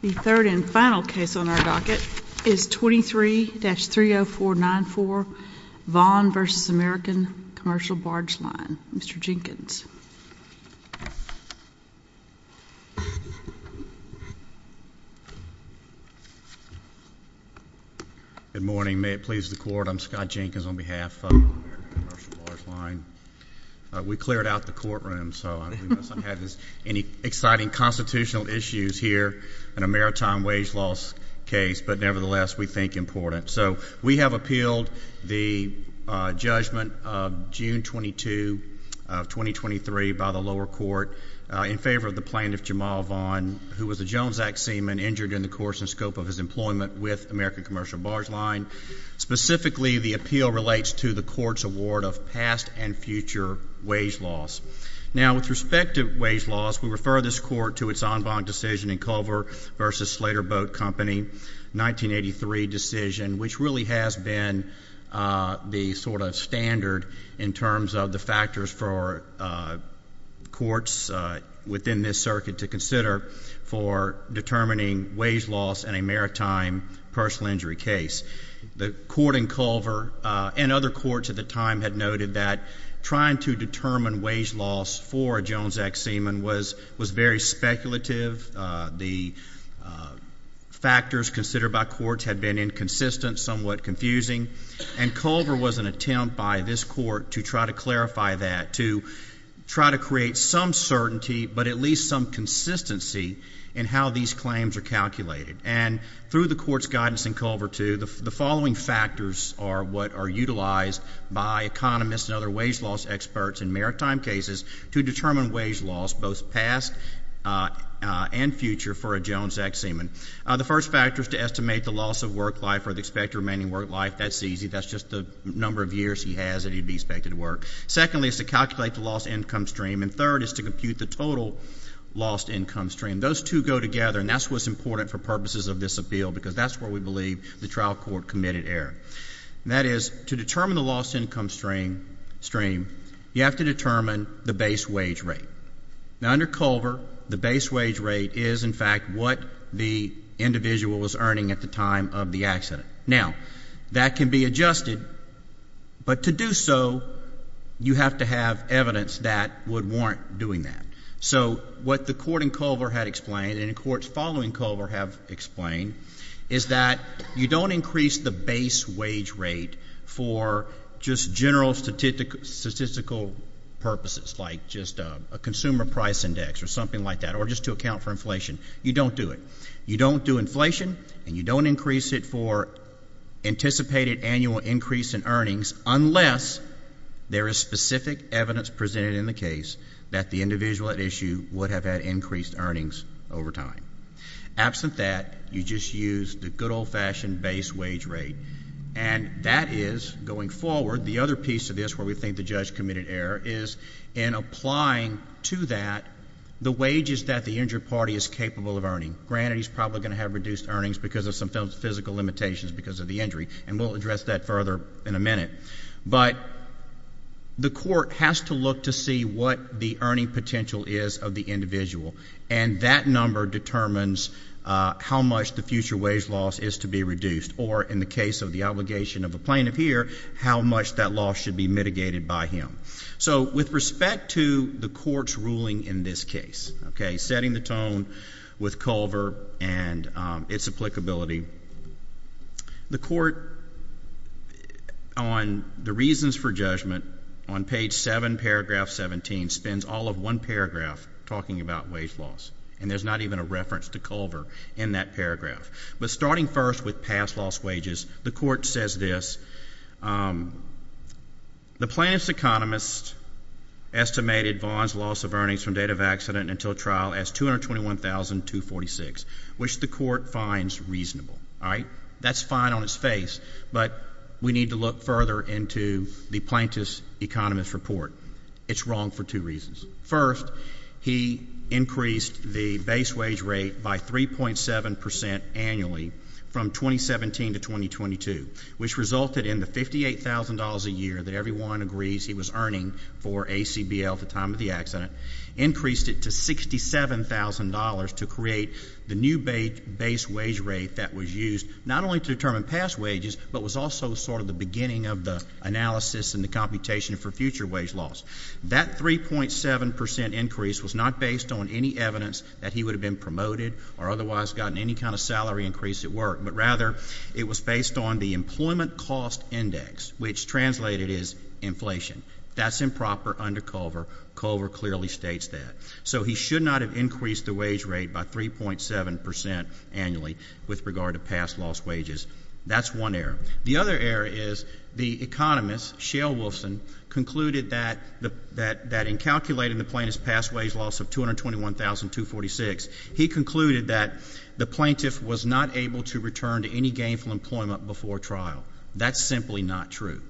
The third and final case on our docket is 23-30494 Vaughn v. American Cml Barge Line. Mr. Jenkins. Good morning. May it please the court, I'm Scott Jenkins on behalf of American Cml Barge Line. We cleared out the courtroom, so we must not have any exciting constitutional issues here in a maritime wage loss case. But nevertheless, we think it's important. We have appealed the judgment of June 22, 2023 by the lower court in favor of the plaintiff, Jamal Vaughn, who was a Jones Act seaman injured in the course and scope of his employment with American Cml Barge Line. Specifically, the appeal relates to the court's award of past and future wage loss. Now, with respect to wage loss, we refer this court to its en banc decision in Culver v. Slater Boat Company, 1983 decision, which really has been the sort of standard in terms of the factors for courts within this circuit to consider for determining wage loss in a maritime personal injury case. The court in Culver and other courts at the time had noted that trying to determine wage loss for a Jones Act seaman was very speculative. The factors considered by courts had been inconsistent, somewhat confusing, and Culver was an attempt by this court to try to clarify that, to try to create some certainty, but at least some consistency in how these claims are calculated. And through the court's guidance in Culver, too, the following factors are what are utilized by economists and other wage loss experts in maritime cases to determine wage loss, both past and future, for a Jones Act seaman. The first factor is to estimate the loss of work life or the expected remaining work life. That's easy. That's just the number of years he has that he'd be expected to work. Secondly, it's to calculate the lost income stream. And third is to compute the total lost income stream. Those two go together, and that's what's important for purposes of this appeal, because that's where we believe the trial court committed error. That is, to determine the lost income stream, you have to determine the base wage rate. Now, under Culver, the base wage rate is, in fact, what the individual was earning at the time of the accident. Now, that can be adjusted, but to do so, you have to have evidence that would warrant doing that. So what the court in Culver had explained, and the courts following Culver have explained, is that you don't increase the base wage rate for just general statistical purposes, like just a consumer price index or something like that, or just to account for inflation. You don't do it. And you don't increase it for anticipated annual increase in earnings unless there is specific evidence presented in the case that the individual at issue would have had increased earnings over time. Absent that, you just use the good old-fashioned base wage rate. And that is, going forward, the other piece of this where we think the judge committed error is, in applying to that the wages that the injured party is capable of earning. Granted, he's probably going to have reduced earnings because of some physical limitations because of the injury, and we'll address that further in a minute. But the court has to look to see what the earning potential is of the individual, and that number determines how much the future wage loss is to be reduced, or in the case of the obligation of a plaintiff here, how much that loss should be mitigated by him. So with respect to the court's ruling in this case, setting the tone with Culver and its applicability, the court, on the reasons for judgment, on page 7, paragraph 17, spends all of one paragraph talking about wage loss. And there's not even a reference to Culver in that paragraph. But starting first with past loss wages, the court says this. The plaintiff's economist estimated Vaughn's loss of earnings from date of accident until trial as $221,246, which the court finds reasonable. That's fine on its face, but we need to look further into the plaintiff's economist's report. It's wrong for two reasons. First, he increased the base wage rate by 3.7 percent annually from 2017 to 2022, which resulted in the $58,000 a year that everyone agrees he was earning for ACBL at the time of the accident, increased it to $67,000 to create the new base wage rate that was used not only to determine past wages, but was also sort of the beginning of the analysis and the computation for future wage loss. That 3.7 percent increase was not based on any evidence that he would have been promoted or otherwise gotten any kind of salary increase at work, but rather it was based on the employment cost index, which translated is inflation. That's improper under Culver. Culver clearly states that. So he should not have increased the wage rate by 3.7 percent annually with regard to past loss wages. That's one error. The other error is the economist, Shale Wolfson, concluded that in calculating the plaintiff's past wage loss of $221,246, he concluded that the plaintiff was not able to return to any gainful employment before trial. That's simply not true.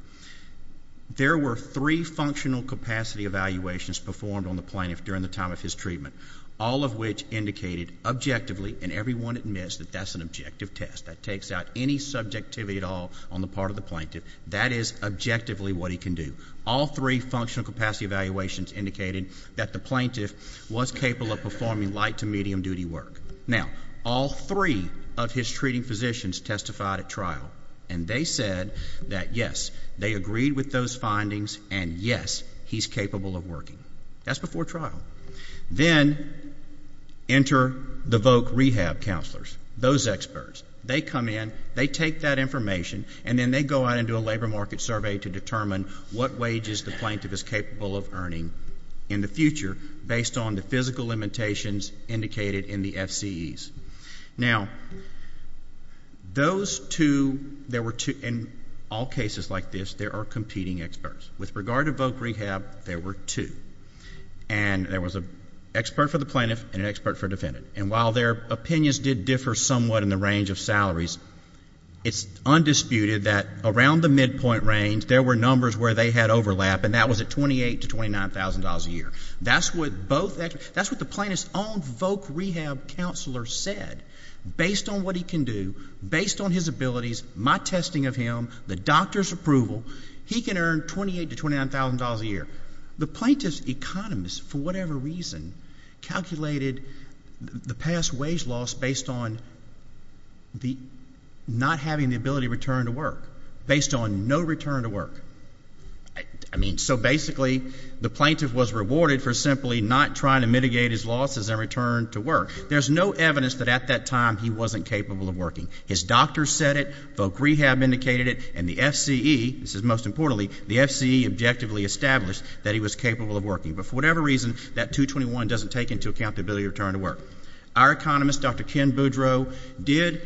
There were three functional capacity evaluations performed on the plaintiff during the time of his treatment, all of which indicated objectively, and everyone admits that that's an objective test. That takes out any subjectivity at all on the part of the plaintiff. That is objectively what he can do. All three functional capacity evaluations indicated that the plaintiff was capable of performing light to medium duty work. Now, all three of his treating physicians testified at trial, and they said that, yes, they agreed with those findings, and, yes, he's capable of working. That's before trial. Then enter the voc rehab counselors, those experts. They come in. They take that information, and then they go out and do a labor market survey to determine what wages the plaintiff is capable of earning in the future based on the physical limitations indicated in the FCEs. Now, those two, there were two, in all cases like this, there are competing experts. With regard to voc rehab, there were two, and there was an expert for the plaintiff and an expert for a defendant. And while their opinions did differ somewhat in the range of salaries, it's undisputed that around the midpoint range, there were numbers where they had overlap, and that was at $28,000 to $29,000 a year. That's what the plaintiff's own voc rehab counselor said. Based on what he can do, based on his abilities, my testing of him, the doctor's approval, he can earn $28,000 to $29,000 a year. The plaintiff's economist, for whatever reason, calculated the past wage loss based on not having the ability to return to work, based on no return to work. I mean, so basically the plaintiff was rewarded for simply not trying to mitigate his losses and return to work. There's no evidence that at that time he wasn't capable of working. His doctor said it, voc rehab indicated it, and the FCE, this is most importantly, the FCE objectively established that he was capable of working. But for whatever reason, that $221,000 doesn't take into account the ability to return to work. Our economist, Dr. Ken Boudreau, did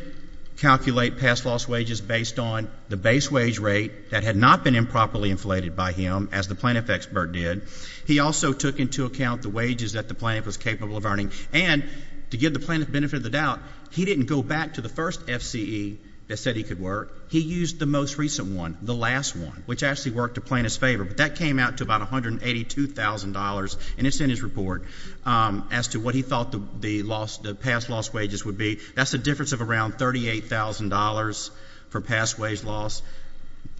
calculate past loss wages based on the base wage rate that had not been improperly inflated by him, as the plaintiff expert did. He also took into account the wages that the plaintiff was capable of earning. And to give the plaintiff the benefit of the doubt, he didn't go back to the first FCE that said he could work. He used the most recent one, the last one, which actually worked the plaintiff's favor. But that came out to about $182,000, and it's in his report, as to what he thought the past loss wages would be. That's a difference of around $38,000 for past wage loss.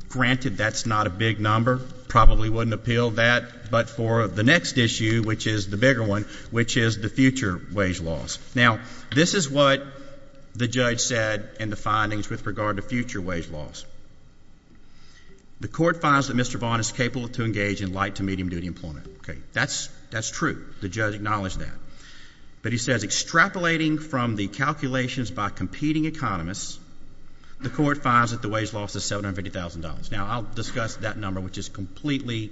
Granted, that's not a big number, probably wouldn't appeal that. But for the next issue, which is the bigger one, which is the future wage loss. Now, this is what the judge said in the findings with regard to future wage loss. The court finds that Mr. Vaughn is capable to engage in light to medium duty employment. That's true. The judge acknowledged that. But he says extrapolating from the calculations by competing economists, the court finds that the wage loss is $750,000. Now, I'll discuss that number, which is completely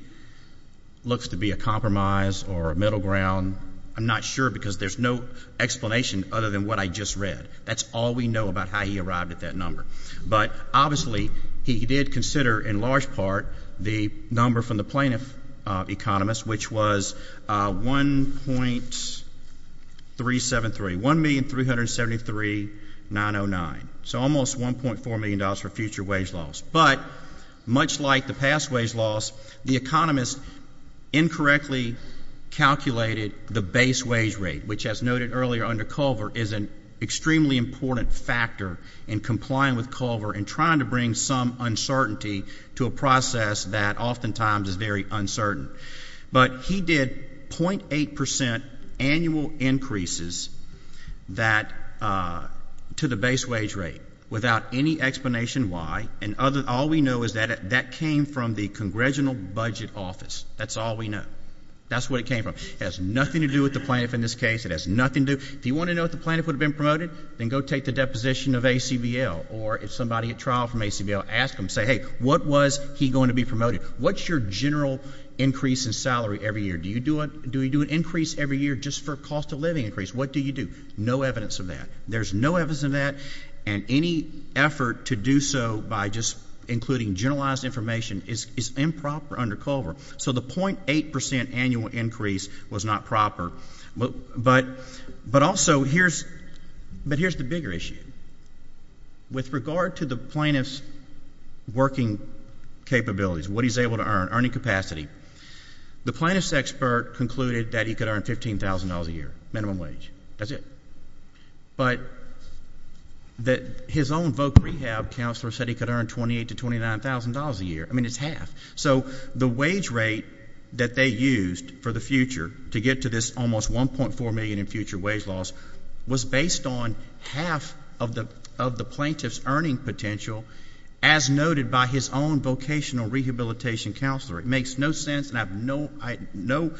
looks to be a compromise or a middle ground. I'm not sure because there's no explanation other than what I just read. That's all we know about how he arrived at that number. But obviously, he did consider in large part the number from the plaintiff economist, which was 1.373, $1,373,909. So almost $1.4 million for future wage loss. But much like the past wage loss, the economist incorrectly calculated the base wage rate, which as noted earlier under Culver is an extremely important factor in complying with Culver and trying to bring some uncertainty to a process that oftentimes is very uncertain. But he did 0.8% annual increases to the base wage rate without any explanation why. And all we know is that that came from the Congressional Budget Office. That's all we know. That's what it came from. It has nothing to do with the plaintiff in this case. It has nothing to do. If you want to know if the plaintiff would have been promoted, then go take the deposition of ACBL. Or if somebody at trial from ACBL, ask them. Say, hey, what was he going to be promoted? What's your general increase in salary every year? Do you do an increase every year just for cost of living increase? What do you do? No evidence of that. There's no evidence of that. And any effort to do so by just including generalized information is improper under Culver. So the 0.8% annual increase was not proper. But also here's the bigger issue. With regard to the plaintiff's working capabilities, what he's able to earn, earning capacity, the plaintiff's expert concluded that he could earn $15,000 a year minimum wage. That's it. But his own voc rehab counselor said he could earn $28,000 to $29,000 a year. I mean, it's half. So the wage rate that they used for the future to get to this almost $1.4 million in future wage loss was based on half of the plaintiff's earning potential as noted by his own vocational rehabilitation counselor. It makes no sense, and I have no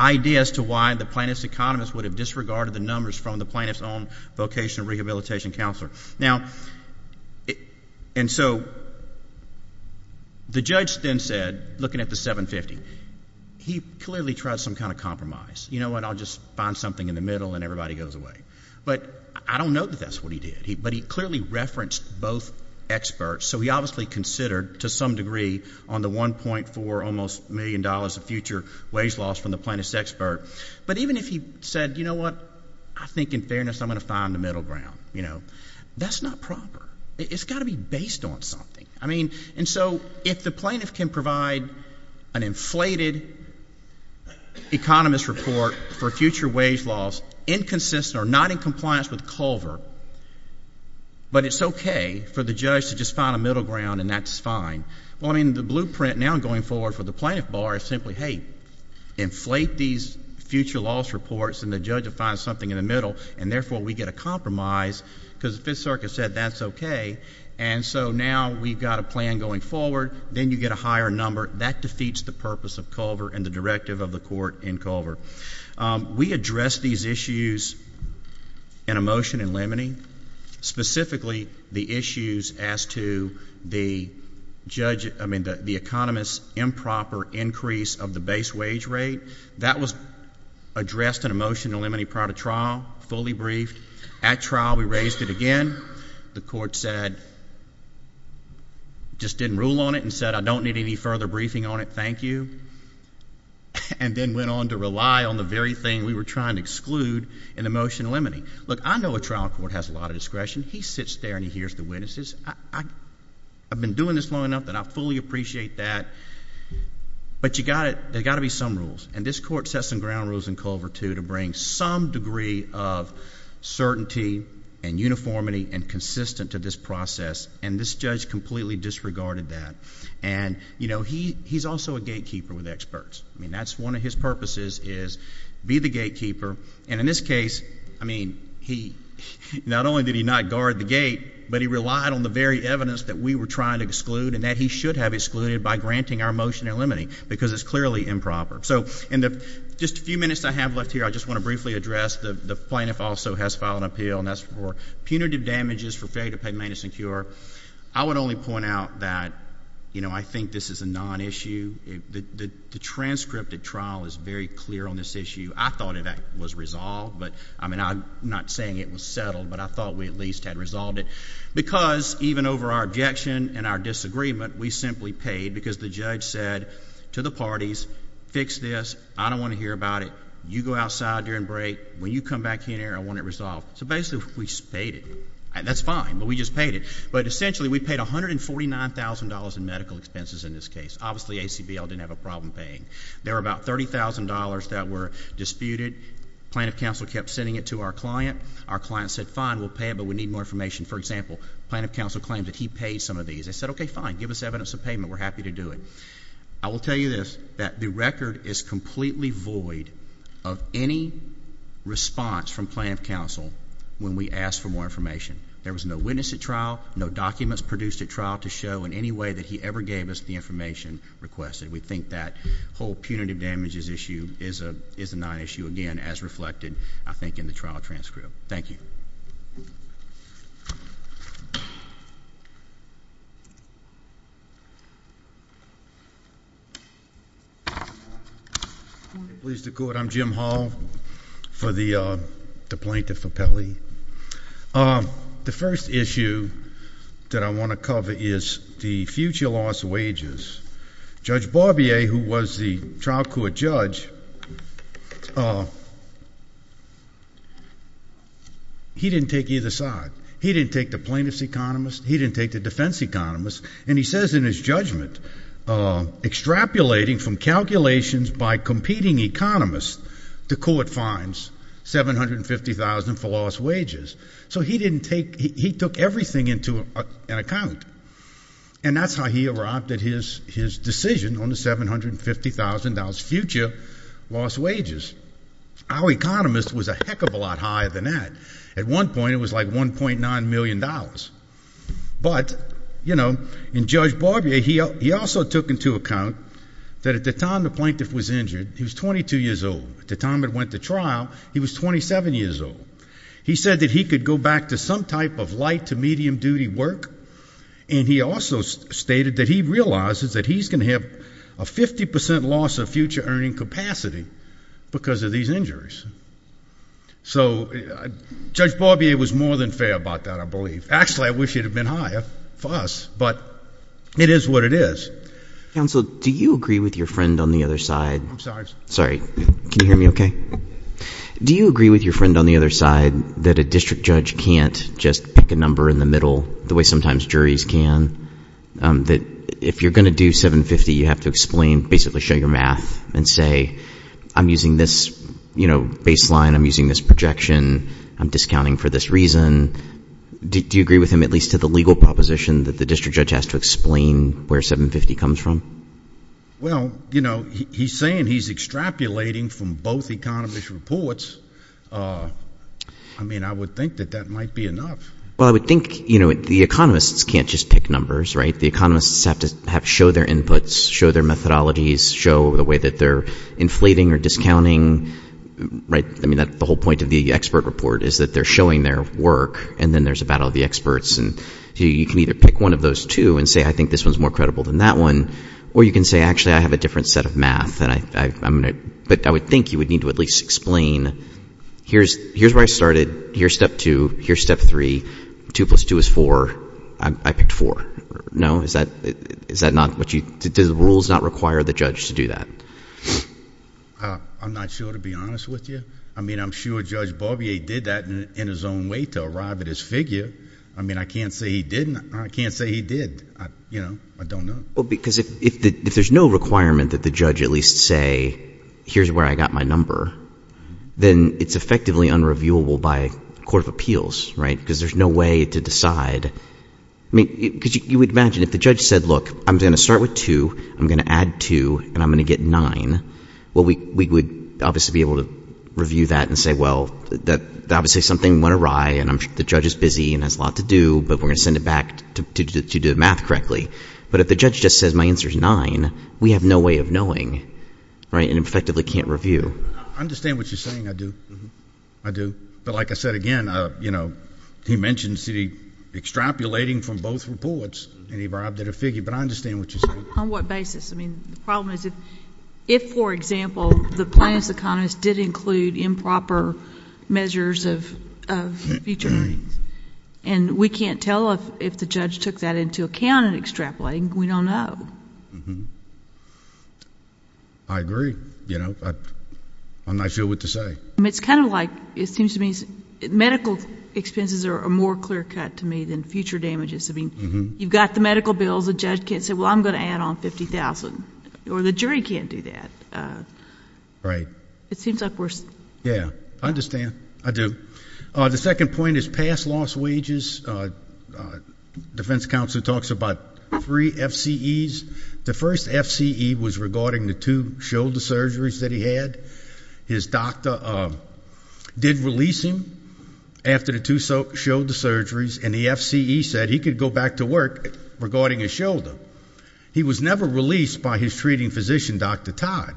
idea as to why the plaintiff's economist would have disregarded the numbers from the plaintiff's own vocational rehabilitation counselor. Now, and so the judge then said, looking at the 750, he clearly tried some kind of compromise. You know what, I'll just find something in the middle and everybody goes away. But I don't know that that's what he did. But he clearly referenced both experts. So he obviously considered to some degree on the $1.4 almost million of future wage loss from the plaintiff's expert. But even if he said, you know what, I think in fairness I'm going to find the middle ground, you know, that's not proper. It's got to be based on something. I mean, and so if the plaintiff can provide an inflated economist report for future wage loss, inconsistent or not in compliance with Culver, but it's okay for the judge to just find a middle ground and that's fine. Well, I mean, the blueprint now going forward for the plaintiff bar is simply, hey, inflate these future loss reports and the judge will find something in the middle, and therefore we get a compromise because the Fifth Circuit said that's okay. And so now we've got a plan going forward. Then you get a higher number. That defeats the purpose of Culver and the directive of the court in Culver. We addressed these issues in a motion in Lemony, specifically the issues as to the economist's improper increase of the base wage rate. That was addressed in a motion in Lemony prior to trial, fully briefed. At trial we raised it again. The court said it just didn't rule on it and said I don't need any further briefing on it. Thank you. And then went on to rely on the very thing we were trying to exclude in the motion in Lemony. Look, I know a trial court has a lot of discretion. He sits there and he hears the witnesses. I've been doing this long enough that I fully appreciate that. But you've got to—there's got to be some rules, and this court sets some ground rules in Culver, too, to bring some degree of certainty and uniformity and consistency to this process, and this judge completely disregarded that. And, you know, he's also a gatekeeper with experts. I mean, that's one of his purposes is be the gatekeeper. And in this case, I mean, not only did he not guard the gate, but he relied on the very evidence that we were trying to exclude and that he should have excluded by granting our motion in Lemony because it's clearly improper. So in the just a few minutes I have left here, I just want to briefly address, the plaintiff also has filed an appeal, and that's for punitive damages for failure to pay maintenance and cure. I would only point out that, you know, I think this is a non-issue. The transcript of trial is very clear on this issue. I thought it was resolved, but, I mean, I'm not saying it was settled, but I thought we at least had resolved it because even over our objection and our disagreement, we simply paid because the judge said to the parties, fix this. I don't want to hear about it. You go outside during break. When you come back here, I want it resolved. So basically, we just paid it. That's fine, but we just paid it. But essentially, we paid $149,000 in medical expenses in this case. Obviously, ACBL didn't have a problem paying. There were about $30,000 that were disputed. Plaintiff counsel kept sending it to our client. Our client said, fine, we'll pay it, but we need more information. For example, plaintiff counsel claimed that he paid some of these. They said, okay, fine, give us evidence of payment. We're happy to do it. I will tell you this, that the record is completely void of any response from plaintiff counsel when we ask for more information. There was no witness at trial, no documents produced at trial to show in any way that he ever gave us the information requested. We think that whole punitive damages issue is a non-issue again, as reflected, I think, in the trial transcript. Thank you. Pleased to court. I'm Jim Hall for the Plaintiff Appellee. The first issue that I want to cover is the future loss of wages. Judge Barbier, who was the trial court judge, he didn't take either side. He didn't take the plaintiff's economist. He didn't take the defense economist. And he says in his judgment, extrapolating from calculations by competing economists, the court finds $750,000 for lost wages. So he took everything into an account, and that's how he erupted his decision on the $750,000 future lost wages. Our economist was a heck of a lot higher than that. At one point, it was like $1.9 million. But, you know, in Judge Barbier, he also took into account that at the time the plaintiff was injured, he was 22 years old. At the time it went to trial, he was 27 years old. He said that he could go back to some type of light to medium duty work, and he also stated that he realizes that he's going to have a 50% loss of future earning capacity because of these injuries. So Judge Barbier was more than fair about that, I believe. Actually, I wish it had been higher for us, but it is what it is. Counsel, do you agree with your friend on the other side? I'm sorry? Sorry. Can you hear me okay? Do you agree with your friend on the other side that a district judge can't just pick a number in the middle, the way sometimes juries can, that if you're going to do $750,000, you have to explain, basically show your math and say, I'm using this baseline, I'm using this projection, I'm discounting for this reason. Do you agree with him, at least to the legal proposition, that the district judge has to explain where $750,000 comes from? Well, you know, he's saying he's extrapolating from both economists' reports. I mean, I would think that that might be enough. Well, I would think, you know, the economists can't just pick numbers, right? The economists have to show their inputs, show their methodologies, show the way that they're inflating or discounting, right? I mean, the whole point of the expert report is that they're showing their work, and then there's a battle of the experts. You can either pick one of those two and say, I think this one's more credible than that one, or you can say, actually, I have a different set of math, but I would think you would need to at least explain, here's where I started, here's step two, here's step three. Two plus two is four. I picked four. No? Does the rules not require the judge to do that? I'm not sure, to be honest with you. I mean, I'm sure Judge Barbier did that in his own way to arrive at his figure. I mean, I can't say he didn't. I can't say he did. You know, I don't know. Well, because if there's no requirement that the judge at least say, here's where I got my number, then it's effectively unreviewable by a court of appeals, right? Because there's no way to decide. I mean, because you would imagine if the judge said, look, I'm going to start with two, I'm going to add two, and I'm going to get nine, well, we would obviously be able to review that and say, well, obviously something went awry and the judge is busy and has a lot to do, but we're going to send it back to do the math correctly. But if the judge just says my answer is nine, we have no way of knowing, right, and effectively can't review. I understand what you're saying. I do. I do. But like I said, again, you know, he mentioned extrapolating from both reports, and he brought up that figure, but I understand what you're saying. On what basis? I mean, the problem is if, for example, the plaintiff's economist did include improper measures of future earnings, and we can't tell if the judge took that into account in extrapolating, we don't know. I agree. You know, I feel what to say. It's kind of like it seems to me medical expenses are more clear cut to me than future damages. I mean, you've got the medical bills. The judge can't say, well, I'm going to add on $50,000, or the jury can't do that. Right. It seems like we're... Yeah, I understand. I do. The second point is past loss wages. Defense counsel talks about three FCEs. The first FCE was regarding the two shoulder surgeries that he had. His doctor did release him after the two shoulder surgeries, and the FCE said he could go back to work regarding his shoulder. He was never released by his treating physician, Dr. Todd.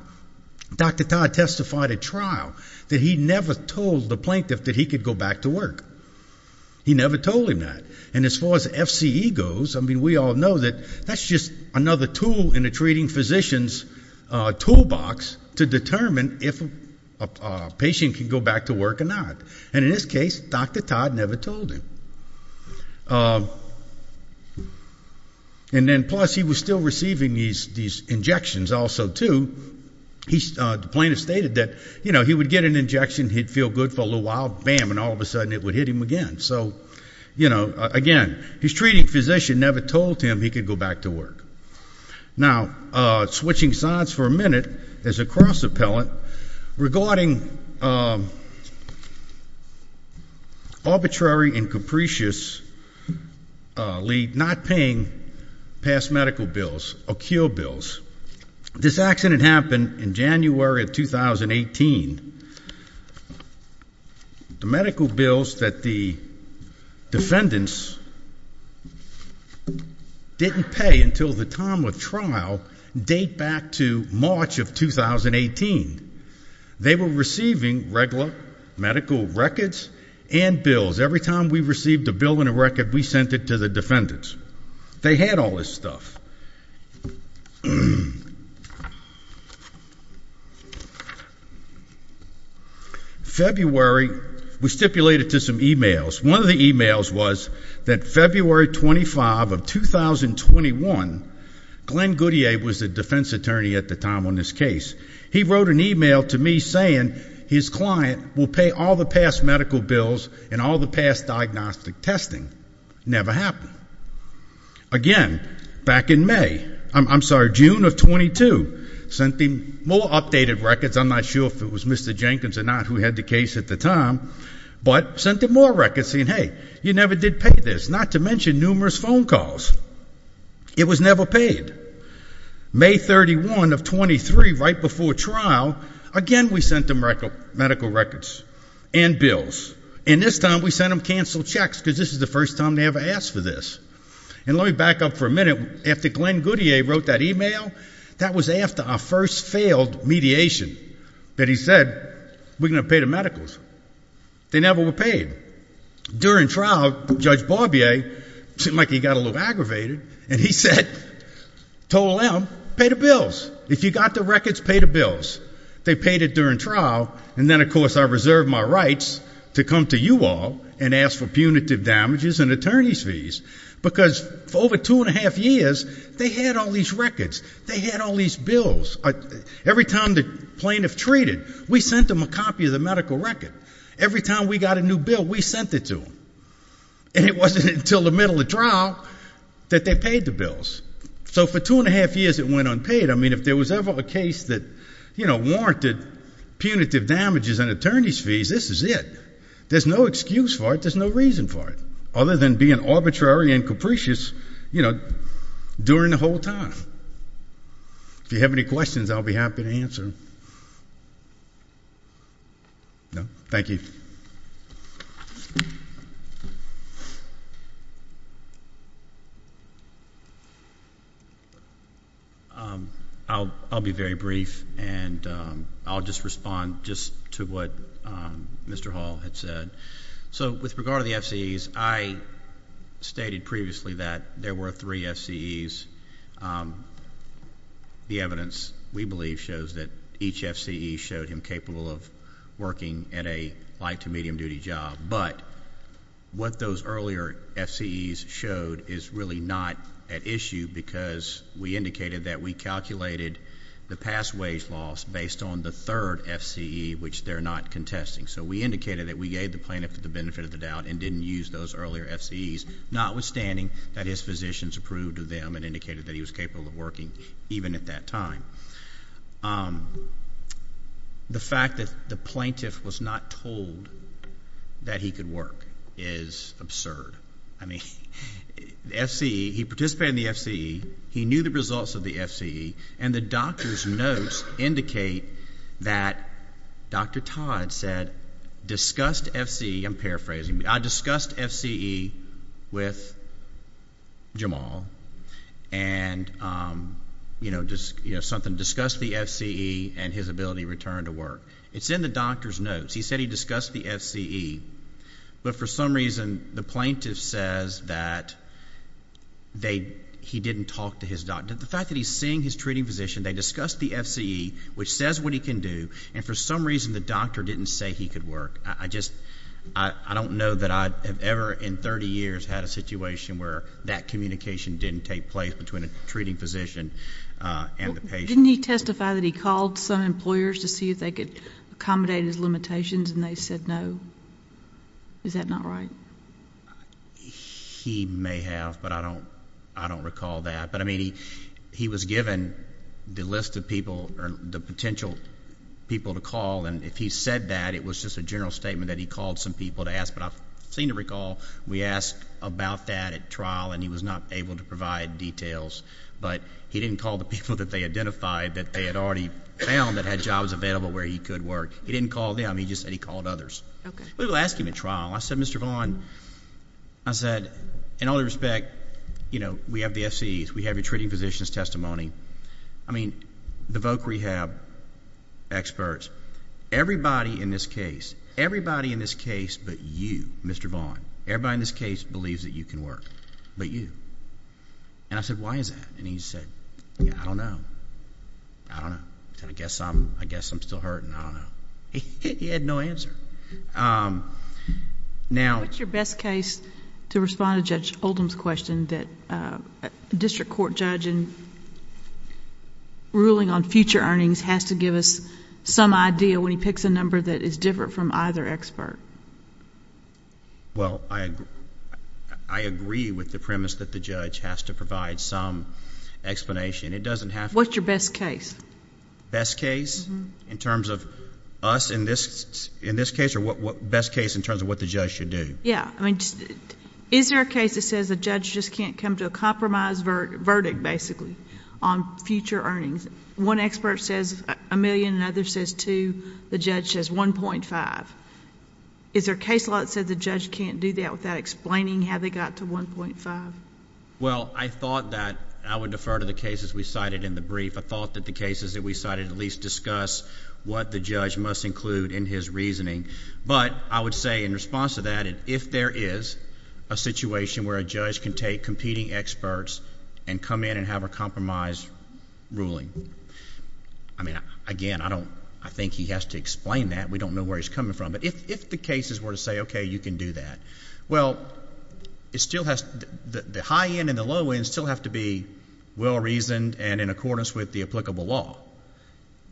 Dr. Todd testified at trial that he never told the plaintiff that he could go back to work. He never told him that. And as far as FCE goes, I mean, we all know that that's just another tool in a treating physician's toolbox to determine if a patient can go back to work or not. And in this case, Dr. Todd never told him. And then, plus, he was still receiving these injections also, too. The plaintiff stated that, you know, he would get an injection, he'd feel good for a little while, bam, and all of a sudden it would hit him again. So, you know, again, his treating physician never told him he could go back to work. Now, switching sides for a minute, there's a cross-appellant regarding arbitrary and capriciously not paying past medical bills or cure bills. This accident happened in January of 2018. The medical bills that the defendants didn't pay until the time of trial date back to March of 2018. They were receiving regular medical records and bills. Every time we received a bill and a record, we sent it to the defendants. They had all this stuff. February, we stipulated to some e-mails. One of the e-mails was that February 25 of 2021, Glenn Goodyear was the defense attorney at the time on this case. He wrote an e-mail to me saying his client will pay all the past medical bills and all the past diagnostic testing. Never happened. Again, back in May, I'm sorry, June of 22, sent him more updated records. I'm not sure if it was Mr. Jenkins or not who had the case at the time, but sent him more records saying, hey, you never did pay this, not to mention numerous phone calls. It was never paid. May 31 of 23, right before trial, again we sent him medical records and bills. And this time we sent him canceled checks because this is the first time they ever asked for this. And let me back up for a minute. After Glenn Goodyear wrote that e-mail, that was after our first failed mediation that he said we're going to pay the medicals. They never were paid. During trial, Judge Barbier seemed like he got a little aggravated, and he said, told them, pay the bills. If you got the records, pay the bills. They paid it during trial, and then, of course, I reserved my rights to come to you all and ask for punitive damages and attorney's fees because for over two and a half years, they had all these records. They had all these bills. Every time the plaintiff treated, we sent them a copy of the medical record. Every time we got a new bill, we sent it to them. And it wasn't until the middle of trial that they paid the bills. So for two and a half years, it went unpaid. I mean, if there was ever a case that, you know, warranted punitive damages and attorney's fees, this is it. There's no excuse for it. There's no reason for it other than being arbitrary and capricious, you know, during the whole time. If you have any questions, I'll be happy to answer. No? Thank you. I'll be very brief, and I'll just respond just to what Mr. Hall had said. So with regard to the FCEs, I stated previously that there were three FCEs. The evidence, we believe, shows that each FCE showed him capable of working at a light to medium duty job. But what those earlier FCEs showed is really not at issue because we indicated that we calculated the past wage loss based on the third FCE, which they're not contesting. So we indicated that we gave the plaintiff the benefit of the doubt and didn't use those earlier FCEs, notwithstanding that his physicians approved of them and indicated that he was capable of working even at that time. The fact that the plaintiff was not told that he could work is absurd. I mean, the FCE, he participated in the FCE, he knew the results of the FCE, and the doctor's notes indicate that Dr. Todd said discussed FCE. I'm paraphrasing. I discussed FCE with Jamal and, you know, something discussed the FCE and his ability to return to work. It's in the doctor's notes. He said he discussed the FCE, but for some reason the plaintiff says that he didn't talk to his doctor. The fact that he's seeing his treating physician, they discussed the FCE, which says what he can do, and for some reason the doctor didn't say he could work. I just don't know that I have ever in 30 years had a situation where that communication didn't take place between a treating physician and the patient. Didn't he testify that he called some employers to see if they could accommodate his limitations, and they said no? Is that not right? He may have, but I don't recall that. But, I mean, he was given the list of people or the potential people to call, and if he said that it was just a general statement that he called some people to ask, but I seem to recall we asked about that at trial and he was not able to provide details, but he didn't call the people that they identified that they had already found that had jobs available where he could work. He didn't call them. He just said he called others. Okay. We will ask him at trial. I said, Mr. Vaughn, I said, in all due respect, you know, we have the FCEs. We have your treating physician's testimony. I mean, the voc rehab experts, everybody in this case, everybody in this case but you, Mr. Vaughn, everybody in this case believes that you can work, but you. And I said, why is that? And he said, I don't know. I don't know. And I guess I'm still hurting. I don't know. He had no answer. Now... What's your best case to respond to Judge Oldham's question that a district court judge in ruling on future earnings has to give us some idea when he picks a number that is different from either expert? Well, I agree with the premise that the judge has to provide some explanation. It doesn't have to... What's your best case? Best case in terms of us in this case or best case in terms of what the judge should do? Yeah. I mean, is there a case that says a judge just can't come to a compromise verdict, basically, on future earnings? One expert says a million and another says two. The judge says 1.5. Is there a case law that says the judge can't do that without explaining how they got to 1.5? Well, I thought that I would defer to the cases we cited in the brief. I thought that the cases that we cited at least discuss what the judge must include in his reasoning. But I would say in response to that, if there is a situation where a judge can take competing experts and come in and have a compromise ruling, I mean, again, I think he has to explain that. We don't know where he's coming from. But if the cases were to say, okay, you can do that, well, it still has...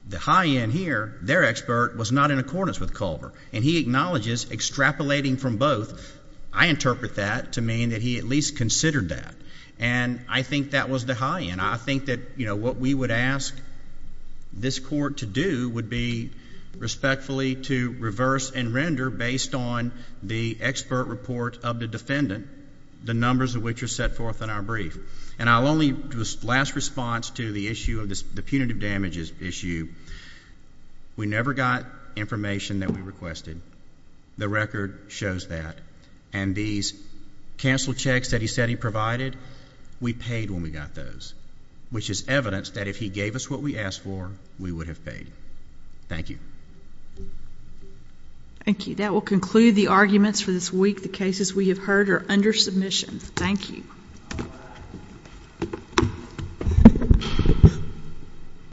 The high end here, their expert, was not in accordance with Culver. And he acknowledges extrapolating from both. I interpret that to mean that he at least considered that. And I think that was the high end. I think that what we would ask this court to do would be respectfully to reverse and render based on the expert report of the defendant, the numbers of which are set forth in our brief. And I'll only do a last response to the issue of the punitive damages issue. We never got information that we requested. The record shows that. And these cancel checks that he said he provided, we paid when we got those, which is evidence that if he gave us what we asked for, we would have paid. Thank you. Thank you. That will conclude the arguments for this week. The cases we have heard are under submission. Thank you.